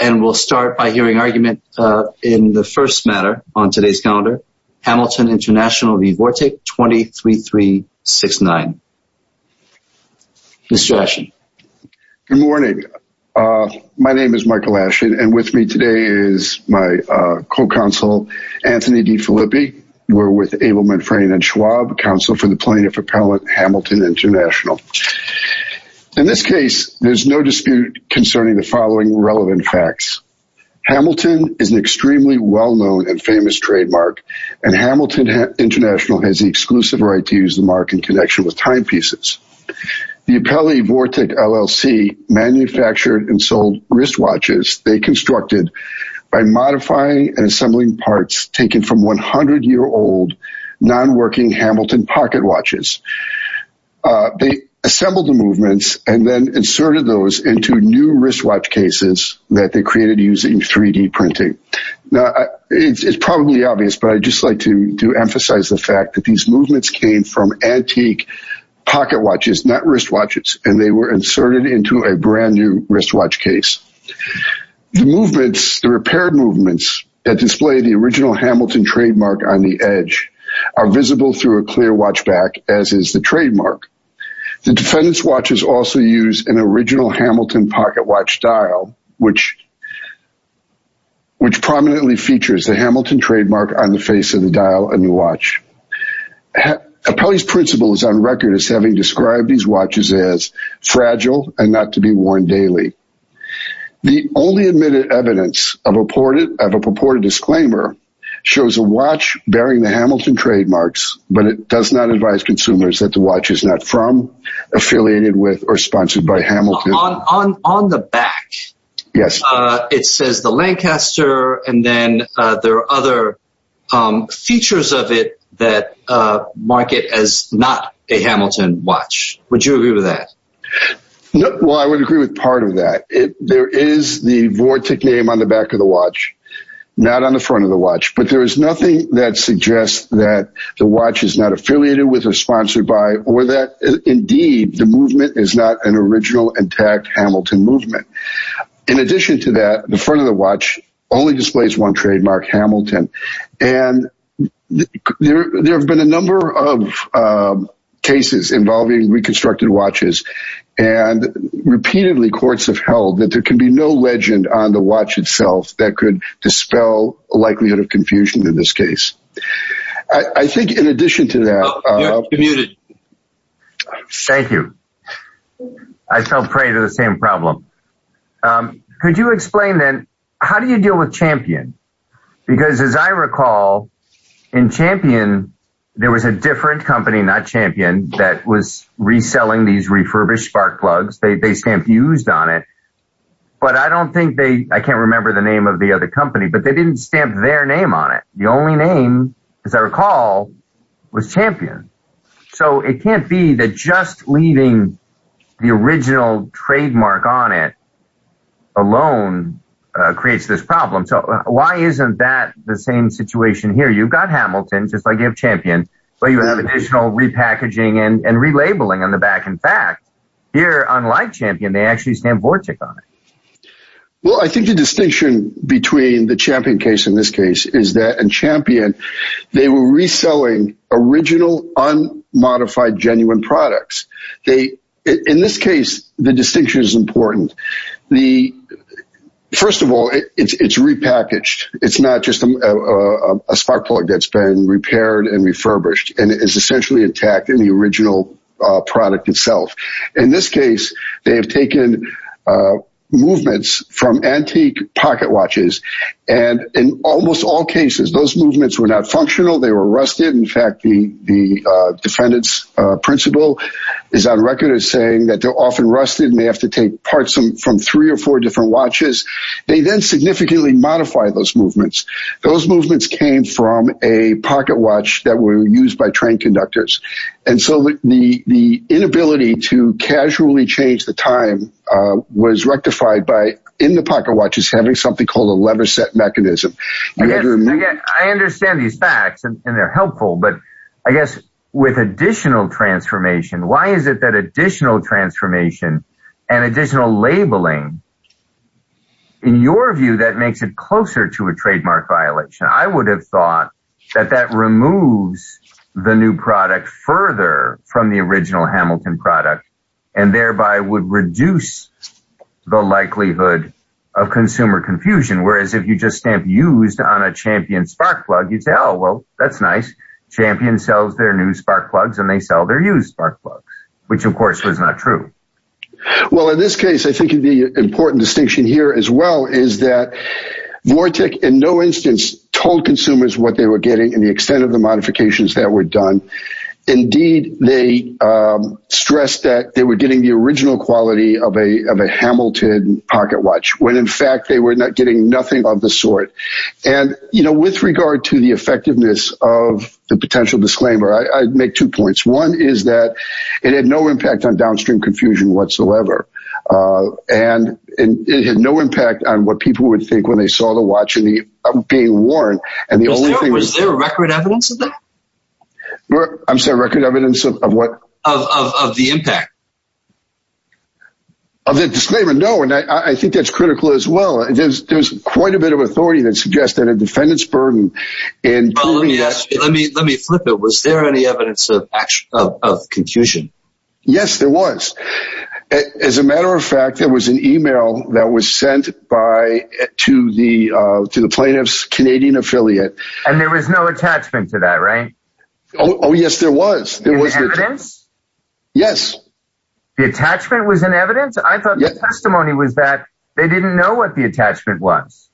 and we'll start by hearing argument in the first matter on today's calendar. Hamilton International v. Vortic 203369. Mr. Ashton. Good morning. My name is Michael Ashton and with me today is my co-counsel Anthony DeFilippi. We're with Abel, Medfrane and Schwab, counsel for the plaintiff appellate Hamilton International. In this case, there's no dispute concerning the following relevant facts. Hamilton is an extremely well-known and famous trademark and Hamilton International has the exclusive right to use the mark in connection with timepieces. The appellate Vortic LLC manufactured and sold wristwatches they constructed by modifying and assembling parts taken from 100-year-old non-working Hamilton pocket watches. They assembled the movements and then inserted those into new wristwatch cases that they created using 3D printing. Now, it's probably obvious, but I'd just like to emphasize the fact that these movements came from antique pocket watches, not wristwatches, and they were inserted into a brand new wristwatch case. The movements, the repaired movements that display the original Hamilton trademark on the edge are visible through a clear watch back, as is the trademark. The defendant's watches also use an original Hamilton pocket watch dial, which prominently features the Hamilton trademark on the face of the dial on the watch. Appellee's principle is on record as having described these watches as fragile and not to be worn daily. The only admitted evidence of a purported disclaimer shows a watch bearing the Hamilton trademarks, but it does not advise consumers that the watch is not from, affiliated with, or sponsored by Hamilton. On the back, it says the Lancaster and then there are other features of it that mark it as not a Hamilton watch. Would you agree with that? Well, I would agree with part of that. There is the Vortec name on the back of the watch, not on the front of the watch, but there is nothing that suggests that the watch is not affiliated with or sponsored by or that indeed the movement is not an original intact Hamilton movement. In addition to that, the front of the watch only displays one trademark, Hamilton, and there have been a number of cases involving reconstructed watches and repeatedly courts have held that there can be no legend on the watch itself that could dispel the likelihood of confusion in this case. I think in addition to that... Thank you. I fell prey to the same problem. Could you explain then, how do you deal with Champion? Because as I recall, in Champion, there was a different company, not Champion, that was reselling these refurbished Spark plugs. They stamped used on it, but I don't think they... I can't remember the name of the other company, but they didn't stamp their name on it. The only name, as I recall, was Champion. So it can't be that just leaving the original trademark on it alone creates this problem. So why isn't that the same situation here? You've got Hamilton, just like you have Champion, but you have additional repackaging and relabeling on the back. In fact, here, unlike Champion, they actually stamp Vortech on it. Well, I think the distinction between the Champion case in this case is that in Champion, they were reselling original, unmodified, genuine products. In this case, the distinction is important. First of all, it's repackaged. It's not just a Spark plug that's been repaired and refurbished and is essentially intact in the original product itself. In this case, they have functional. They were rusted. In fact, the defendant's principal is on record as saying that they're often rusted and they have to take parts from three or four different watches. They then significantly modify those movements. Those movements came from a pocket watch that were used by train conductors. And so the inability to casually change the time was rectified by, in the pocket watches, having something called a leather set mechanism. I guess I understand these facts and they're helpful, but I guess with additional transformation, why is it that additional transformation and additional labeling, in your view, that makes it closer to a trademark violation? I would have thought that that removes the new product further from the original Hamilton product and thereby would reduce the likelihood of consumer confusion. Whereas if you just stamp used on a Champion Spark plug, you'd say, oh, well, that's nice. Champion sells their new Spark plugs and they sell their used Spark plugs, which of course was not true. Well, in this case, I think the important distinction here as well is that Vortec in no instance told consumers what they were getting and the extent of the modifications that were done. Indeed, they stressed that they were getting the original quality of a Hamilton pocket watch, when in fact they were getting nothing of the sort. And with regard to the effectiveness of the potential disclaimer, I'd make two points. One is that it had no impact on downstream confusion whatsoever. And it had no impact on what people would think when they saw the watch being worn. Was there record evidence of that? I'm sorry, record evidence of what? Of the impact. Of the disclaimer? No. And I think that's critical as well. There's quite a bit of authority that suggests that a defendant's burden in... Well, let me flip it. Was there any evidence of confusion? Yes, there was. As a matter of fact, there was an email that was sent to the plaintiff's Canadian affiliate. And there was no attachment to that, right? Oh, yes, there was. There was evidence? Yes. The attachment was an evidence? I thought the testimony was that they didn't know what the attachment was.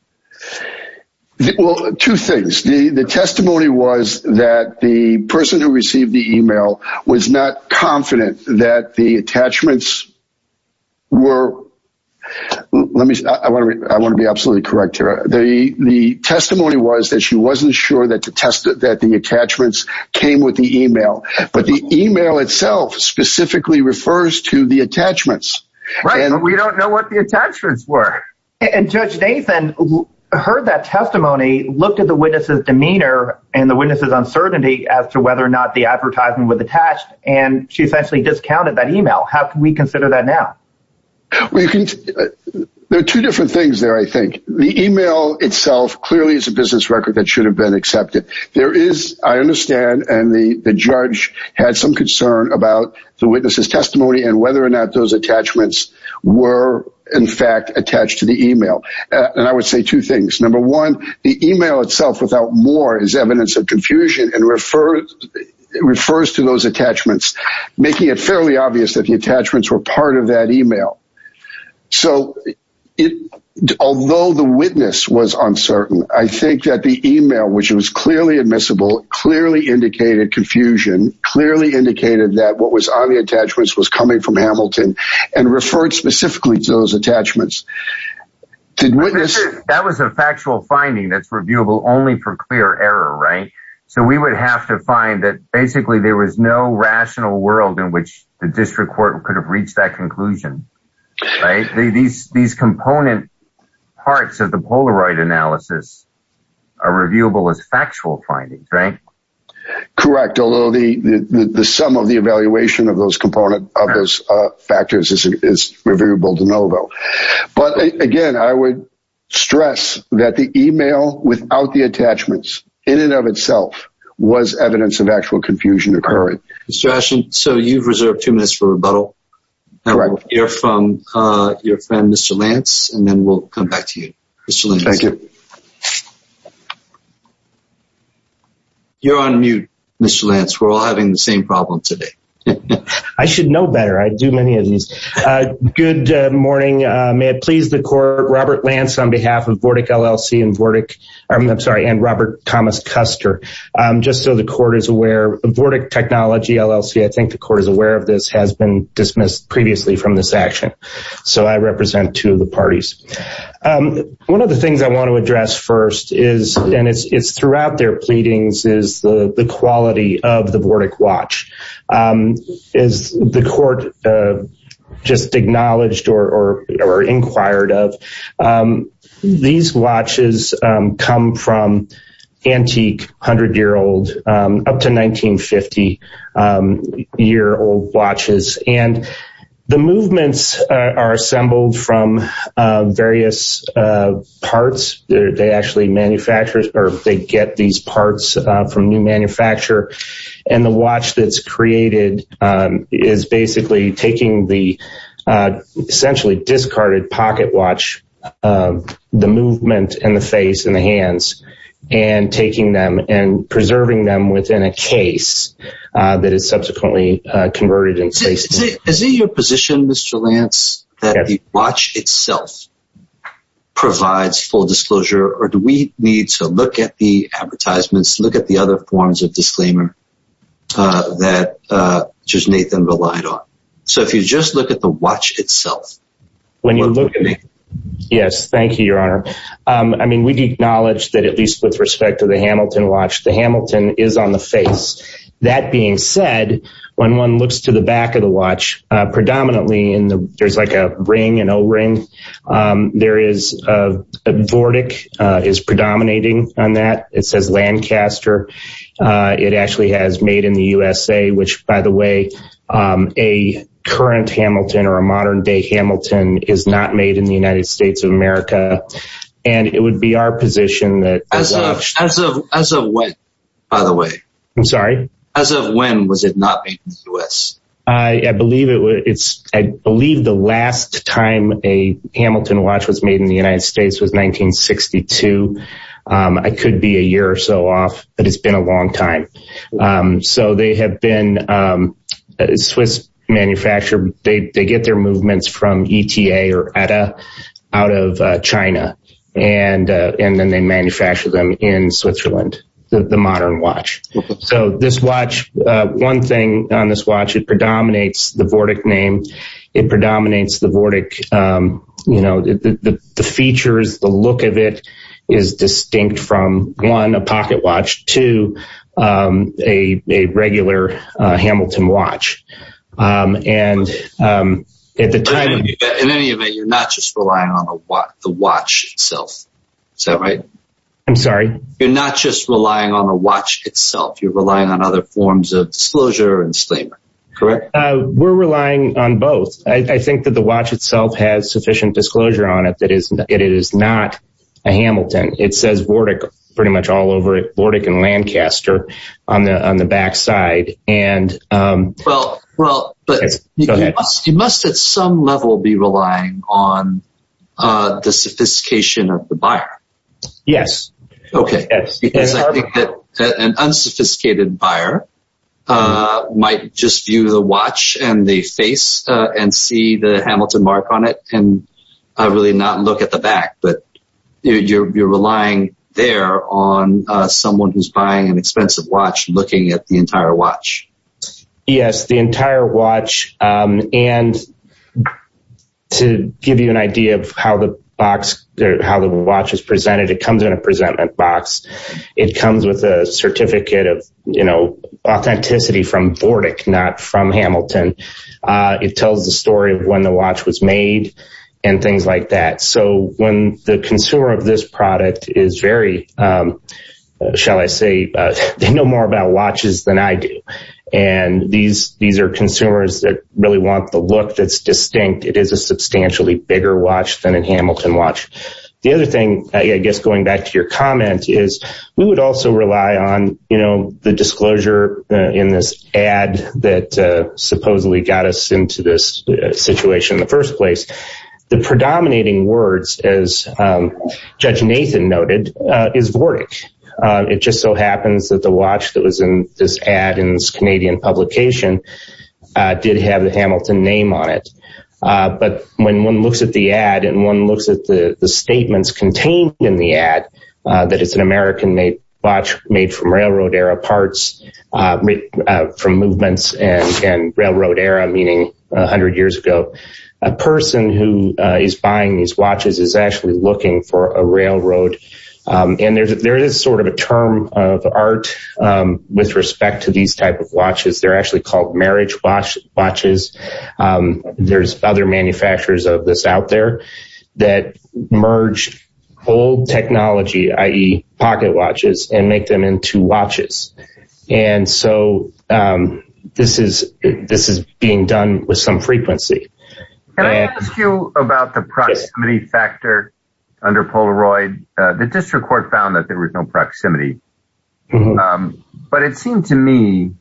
Well, two things. The testimony was that the person who received the email was not confident that the attachments were... I want to be absolutely correct here. The testimony was that she wasn't sure that the attachments came with the email. But the email itself specifically refers to the attachments. But we don't know what the attachments were. And Judge Nathan heard that testimony, looked at the witness's demeanor and the witness's uncertainty as to whether or not the advertisement was attached, and she essentially discounted that email. How can we consider that now? There are two different things there, I think. The email itself clearly is a business record that should have been accepted. There is, I understand, and the judge had some concern about the witness's testimony and whether or not those attachments were in fact attached to the email. And I would say two things. Number one, the email itself without more is evidence of confusion and refers to those attachments were part of that email. So although the witness was uncertain, I think that the email, which was clearly admissible, clearly indicated confusion, clearly indicated that what was on the attachments was coming from Hamilton and referred specifically to those attachments. That was a factual finding that's reviewable only for clear error, right? So we would have to find that basically there was no rational world in which the district court could have reached that conclusion, right? These component parts of the Polaroid analysis are reviewable as factual findings, right? Correct. Although the sum of the evaluation of those component factors is reviewable to know though. But again, I would stress that the email without the attachments in and of itself was evidence of actual confusion occurring. Mr. Ashton, so you've reserved two minutes for rebuttal. All right. We'll hear from your friend, Mr. Lance, and then we'll come back to you. Mr. Lance. Thank you. You're on mute, Mr. Lance. We're all having the same problem today. I should know better. I do many of these. Good morning. May it please the court, Robert Lance on behalf of Vortec LLC and Robert Thomas Custer. Just so the court is aware, Vortec Technology LLC, I think the court is aware of this, has been dismissed previously from this action. So I represent two of the parties. One of the things I want to address first is, and it's throughout their pleadings, is the quality of the Vortec watch. Is the court just acknowledged or inquired of? These watches come from antique, 100-year-old, up to 1950 year old watches. And the movements are assembled from various parts. They actually manufacture, or they get these parts from new manufacturer. And the watch that's created is basically taking the essentially discarded pocket watch, the movement and the face and the hands, and taking them and preserving them within a case that is subsequently converted in space. Is it your position, Mr. Lance, that the watch itself provides full disclosure, or do we need to look at the advertisements, look at the other forms of disclaimer that just Nathan relied on? So if you just look at the watch itself. Yes, thank you, Your Honor. I mean, we acknowledge that at least with respect to the Hamilton watch, the Hamilton is on the face. That being said, when one looks to the back of the watch, predominantly there's like a ring, an O-ring. There is a Vortec is predominating on that. It says Lancaster. It actually has made in the USA, which by the way, a current Hamilton or a modern day Hamilton is not made in the United States of America. And it would be our position As of when, was it not made in the US? I believe the last time a Hamilton watch was made in the United States was 1962. I could be a year or so off, but it's been a long time. So they have been Swiss manufacturer. They get their movements from ETA or ETA out of China. And then they manufacture them in Switzerland, the modern watch. So this watch, one thing on this watch, it predominates the Vortec name. It predominates the Vortec. The features, the look of it is distinct from one, a pocket watch to a regular Hamilton watch. And at the time... In any event, you're not just relying on the watch itself. Is that right? I'm sorry? You're not just relying on the watch itself. You're relying on other forms of disclosure and statement. Correct? We're relying on both. I think that the watch itself has sufficient disclosure on it. It is not a Hamilton. It says Vortec pretty much all over it, Vortec and Lancaster on the backside. And... You must at some level be relying on the sophistication of the buyer. Yes. Okay. Because I think that an unsophisticated buyer might just view the watch and the face and see the Hamilton mark on it and really not look at the back. But you're relying there on someone who's buying an expensive watch looking at the entire watch. Yes, the entire watch. And to give you an idea of how the watch is presented, it comes in a presentment box. It comes with a certificate of authenticity from Vortec, not from Hamilton. It tells the story of when the watch was made and things like that. So when the consumer of this product is very, shall I say, they know more about watches than I do. And these are consumers that really want the look that's distinct. It is a substantially bigger watch than a Hamilton watch. The other thing, I guess, going back to your comment is we would also rely on the disclosure in this ad that supposedly got us into this situation in the first place. The predominating words, as Judge Nathan noted, is Vortec. It just so happens that the watch that was in this ad in this Canadian publication did have the Hamilton name on it. But when one looks at the ad and one looks at the statements contained in the ad that it's an American watch made from railroad era parts, from movements and railroad era, meaning 100 years ago, a person who is buying these watches is actually looking for a railroad. And there is sort of a term of art with respect to these type of watches. They're actually called marriage watches. There's other manufacturers of this out there that merge old technology, i.e. pocket watches, and make them into watches. And so this is being done with some frequency. Can I ask you about the proximity factor under Polaroid? The district court found that there was no proximity. But it seemed to me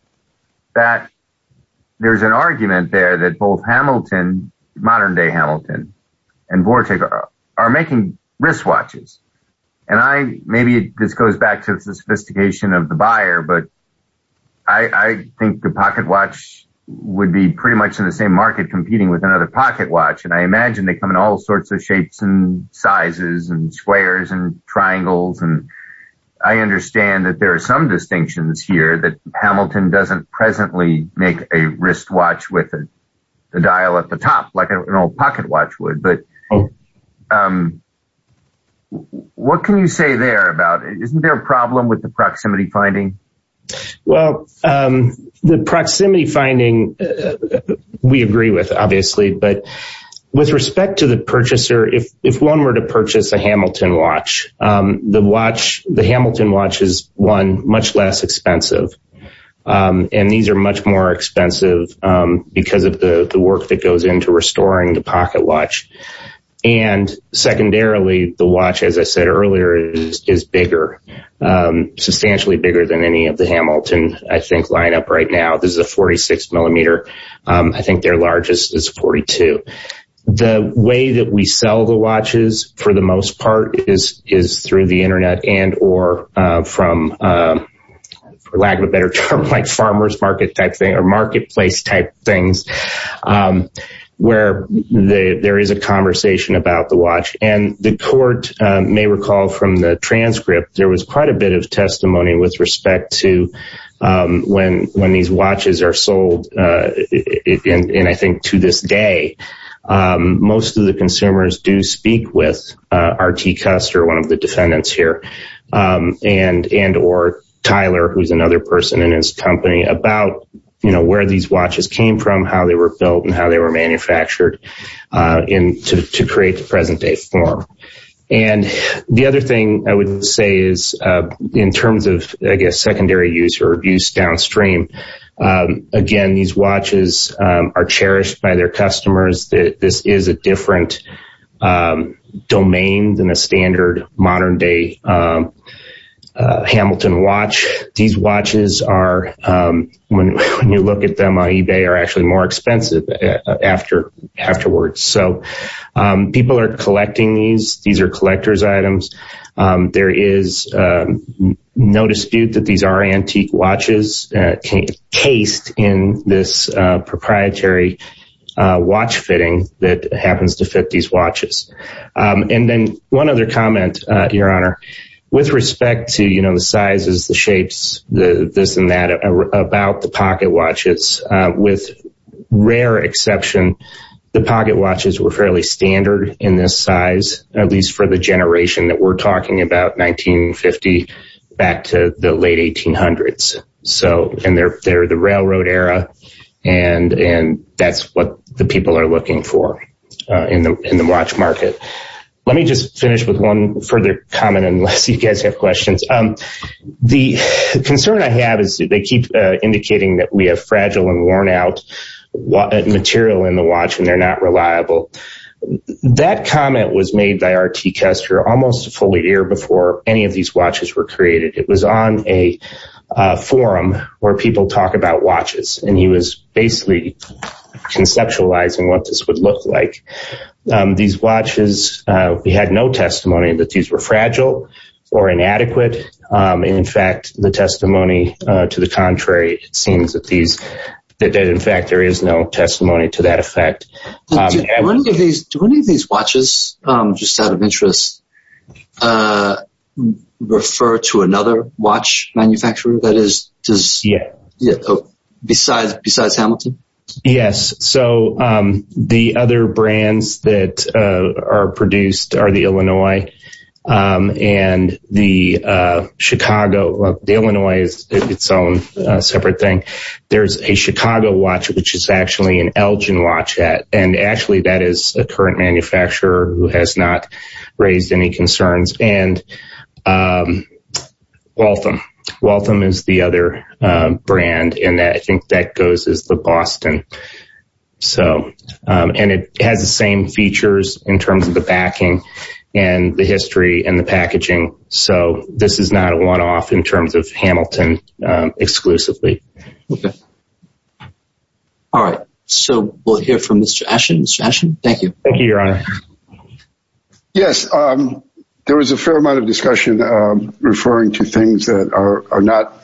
that there's an argument there that both Hamilton, modern day Hamilton, and Vortec are making wristwatches. And maybe this goes back to the sophistication of the buyer, but I think the pocket watch would be pretty much in the same market competing with another pocket watch. And I imagine they come in all sorts of shapes and sizes and squares and triangles. And I understand that there are some distinctions here that Hamilton doesn't presently make a wristwatch with the dial at the top like an old pocket watch would. But what can you say there about it? Isn't there a problem with the proximity finding? Well, the proximity finding, we agree with, obviously. But with respect to the purchaser, if one were to purchase a Hamilton watch, the watch, the Hamilton watch is one much less expensive. And these are much more expensive because of the work that goes into restoring the pocket watch. And secondarily, the watch, as I said earlier, is bigger, substantially bigger than any of the Hamilton, I think, lineup right now. This is a 46 millimeter. I think their largest is 42. The way that we sell the watches, for the most part, is through the internet and or from lack of a better term, like farmers market type thing or marketplace type things, where there is a conversation about the watch. And the court may recall from the transcript, there was quite a bit of testimony with respect to when these watches are sold. And I think to this day, most of the consumers do speak with RT Custer, one of the defendants here, and or Tyler, who's another person in his company about, you know, where these watches came from, how they were built and how they were manufactured in to create the present day form. And the other thing I would say is, in terms of, I guess, secondary use or abuse downstream, again, these watches are cherished by their customers, that this is a different domain than a standard modern day. Hamilton watch, these watches are, when you look at them on eBay are actually more expensive after afterwards. So people are collecting these, these are collectors items. There is no dispute that these are antique watches taste in this proprietary watch fitting that happens to fit these watches. And then one other comment, Your Honor, with respect to you know, the sizes, the shapes, the this and that about the pocket watches, with rare exception, the pocket watches were fairly standard in this size, at least for the generation that we're talking about 1950, back to the late 1800s. So, and they're, they're the railroad era. And, and that's what the people are looking for in the, in the watch market. Let me just finish with one further comment, unless you guys have questions. The concern I have is that they keep indicating that we have fragile and worn out material in the watch and they're not reliable. That comment was made by a, it was on a forum where people talk about watches and he was basically conceptualizing what this would look like. These watches, we had no testimony that these were fragile or inadequate. In fact, the testimony to the contrary, it seems that these, that in fact, there is no testimony to that effect. Do any of these watches, just out of interest, refer to another watch manufacturer that is, besides Hamilton? Yes. So the other brands that are produced are the Illinois and the Chicago, the Illinois is its own separate thing. There's a Chicago watch, which is actually an Elgin watch. And actually that is a current manufacturer who has not raised any concerns. And Waltham, Waltham is the other brand in that I think that goes as the Boston. So, and it has the same features in terms of the backing and the history and the packaging. So this is not a one-off in terms of Hamilton exclusively. Okay. All right. So we'll hear from Mr. Ashen. Mr. Ashen, thank you. Thank you, your honor. Yes. There was a fair amount of discussion referring to things that are not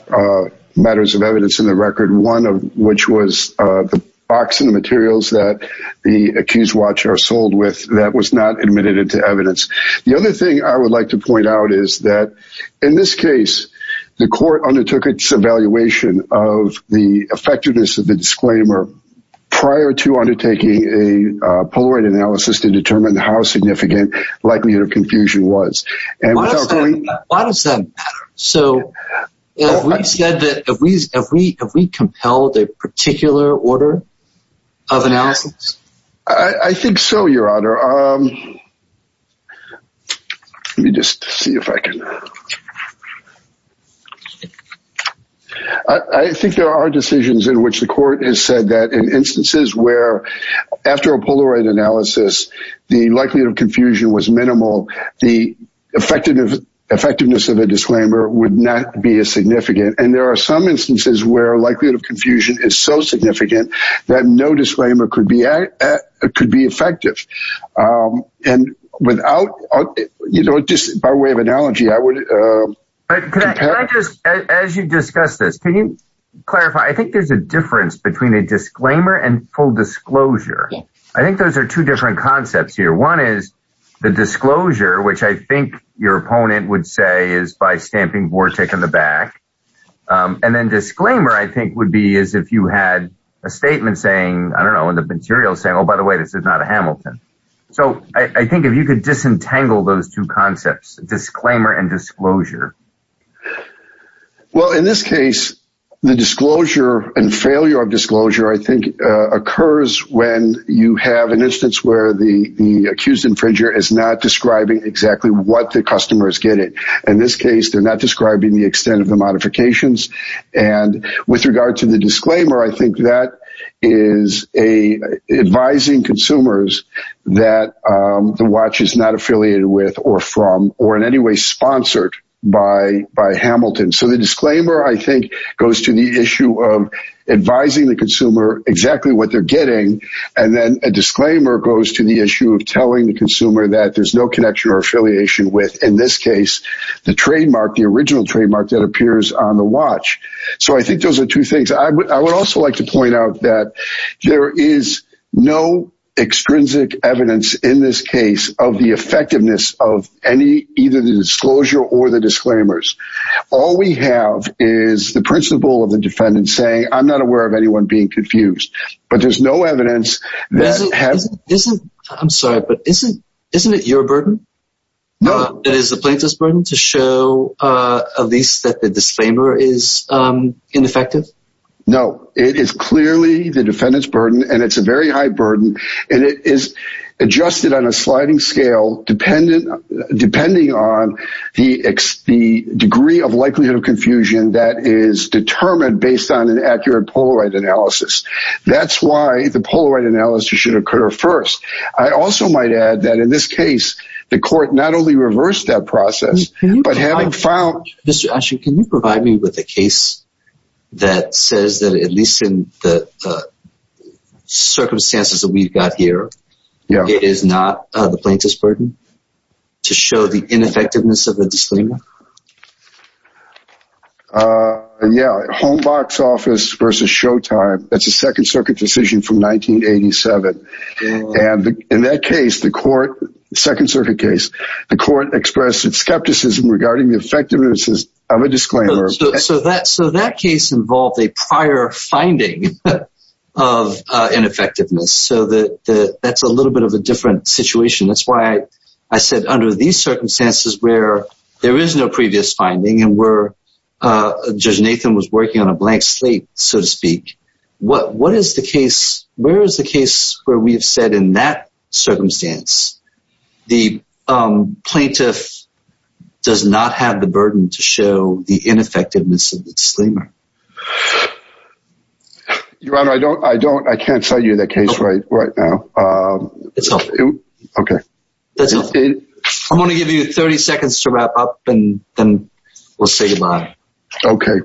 matters of evidence in the record. One of which was the box and the materials that the accused watch are sold with that was not admitted into evidence. The other thing I would like to the effectiveness of the disclaimer prior to undertaking a Polaroid analysis to determine how significant likelihood of confusion was. Why does that matter? So if we said that, have we compelled a particular order of analysis? I think so, your honor. Let me just see if I can, I think there are decisions in which the court has said that in instances where after a Polaroid analysis, the likelihood of confusion was minimal. The effectiveness of a disclaimer would not be as significant. And there are some instances where likelihood of confusion is so significant that no disclaimer could be effective. And without, you know, just by way of analogy, I would. As you discuss this, can you clarify? I think there's a difference between a disclaimer and full disclosure. I think those are two different concepts here. One is the disclosure, which I think your opponent would say is by stamping Vortec in the back. And then disclaimer, I think, would be as if you had a statement saying, I don't know, in the material saying, oh, by the way, this is not a Hamilton. So I think if you could disentangle those two concepts, disclaimer and disclosure. Well, in this case, the disclosure and failure of disclosure, I think occurs when you have an instance where the accused infringer is not describing exactly what the customer is getting. In this case, they're not describing the extent of the modifications. And with regard to disclaimer, I think that is advising consumers that the watch is not affiliated with or from or in any way sponsored by Hamilton. So the disclaimer, I think, goes to the issue of advising the consumer exactly what they're getting. And then a disclaimer goes to the issue of telling the consumer that there's no connection or affiliation with, in this case, the trademark, the original trademark that appears on the watch. So I think those are two things. I would also like to point out that there is no extrinsic evidence in this case of the effectiveness of any, either the disclosure or the disclaimers. All we have is the principle of the defendant saying, I'm not aware of anyone being confused, but there's no evidence. I'm sorry, but isn't it your burden? No, it is the plaintiff's burden to show at least that the disclaimer is ineffective? No, it is clearly the defendant's burden and it's a very high burden. And it is adjusted on a sliding scale, depending on the degree of likelihood of confusion that is determined based on an accurate Polaroid analysis. That's why the Polaroid analysis should occur first. I also might add that in this case, the court not reversed that process, but having filed... Mr. Asher, can you provide me with a case that says that at least in the circumstances that we've got here, it is not the plaintiff's burden to show the ineffectiveness of the disclaimer? Yeah. Homebox office versus Showtime. That's a second circuit decision from 1987. And in that case, the court, second circuit case, the court expressed its skepticism regarding the effectiveness of a disclaimer. So that case involved a prior finding of ineffectiveness. So that's a little bit of a different situation. That's why I said under these circumstances where there is no previous finding and where Judge Nathan was working on where we've said in that circumstance, the plaintiff does not have the burden to show the ineffectiveness of the disclaimer. Your Honor, I can't tell you that case right now. It's helpful. Okay. I want to give you 30 seconds to wrap up and then we'll say goodbye. Okay.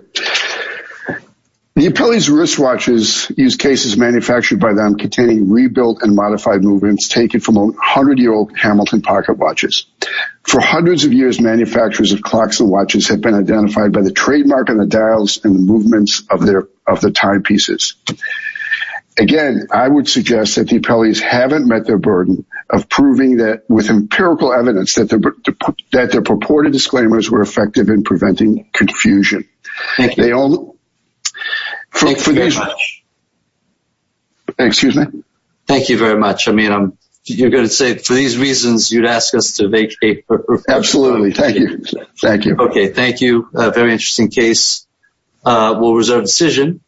The appellee's wristwatches use cases manufactured by them containing rebuilt and modified movements taken from 100-year-old Hamilton pocket watches. For hundreds of years, manufacturers of clocks and watches have been identified by the trademark and the dials and the movements of the timepieces. Again, I would suggest that the appellees haven't met their burden of proving that with empirical evidence that their purported disclaimers were effective in preventing confusion. Thank you very much. I mean, you're going to say for these reasons, you'd ask us to vacate. Absolutely. Thank you. Thank you. Okay. Thank you. Very interesting case. We'll reserve decision.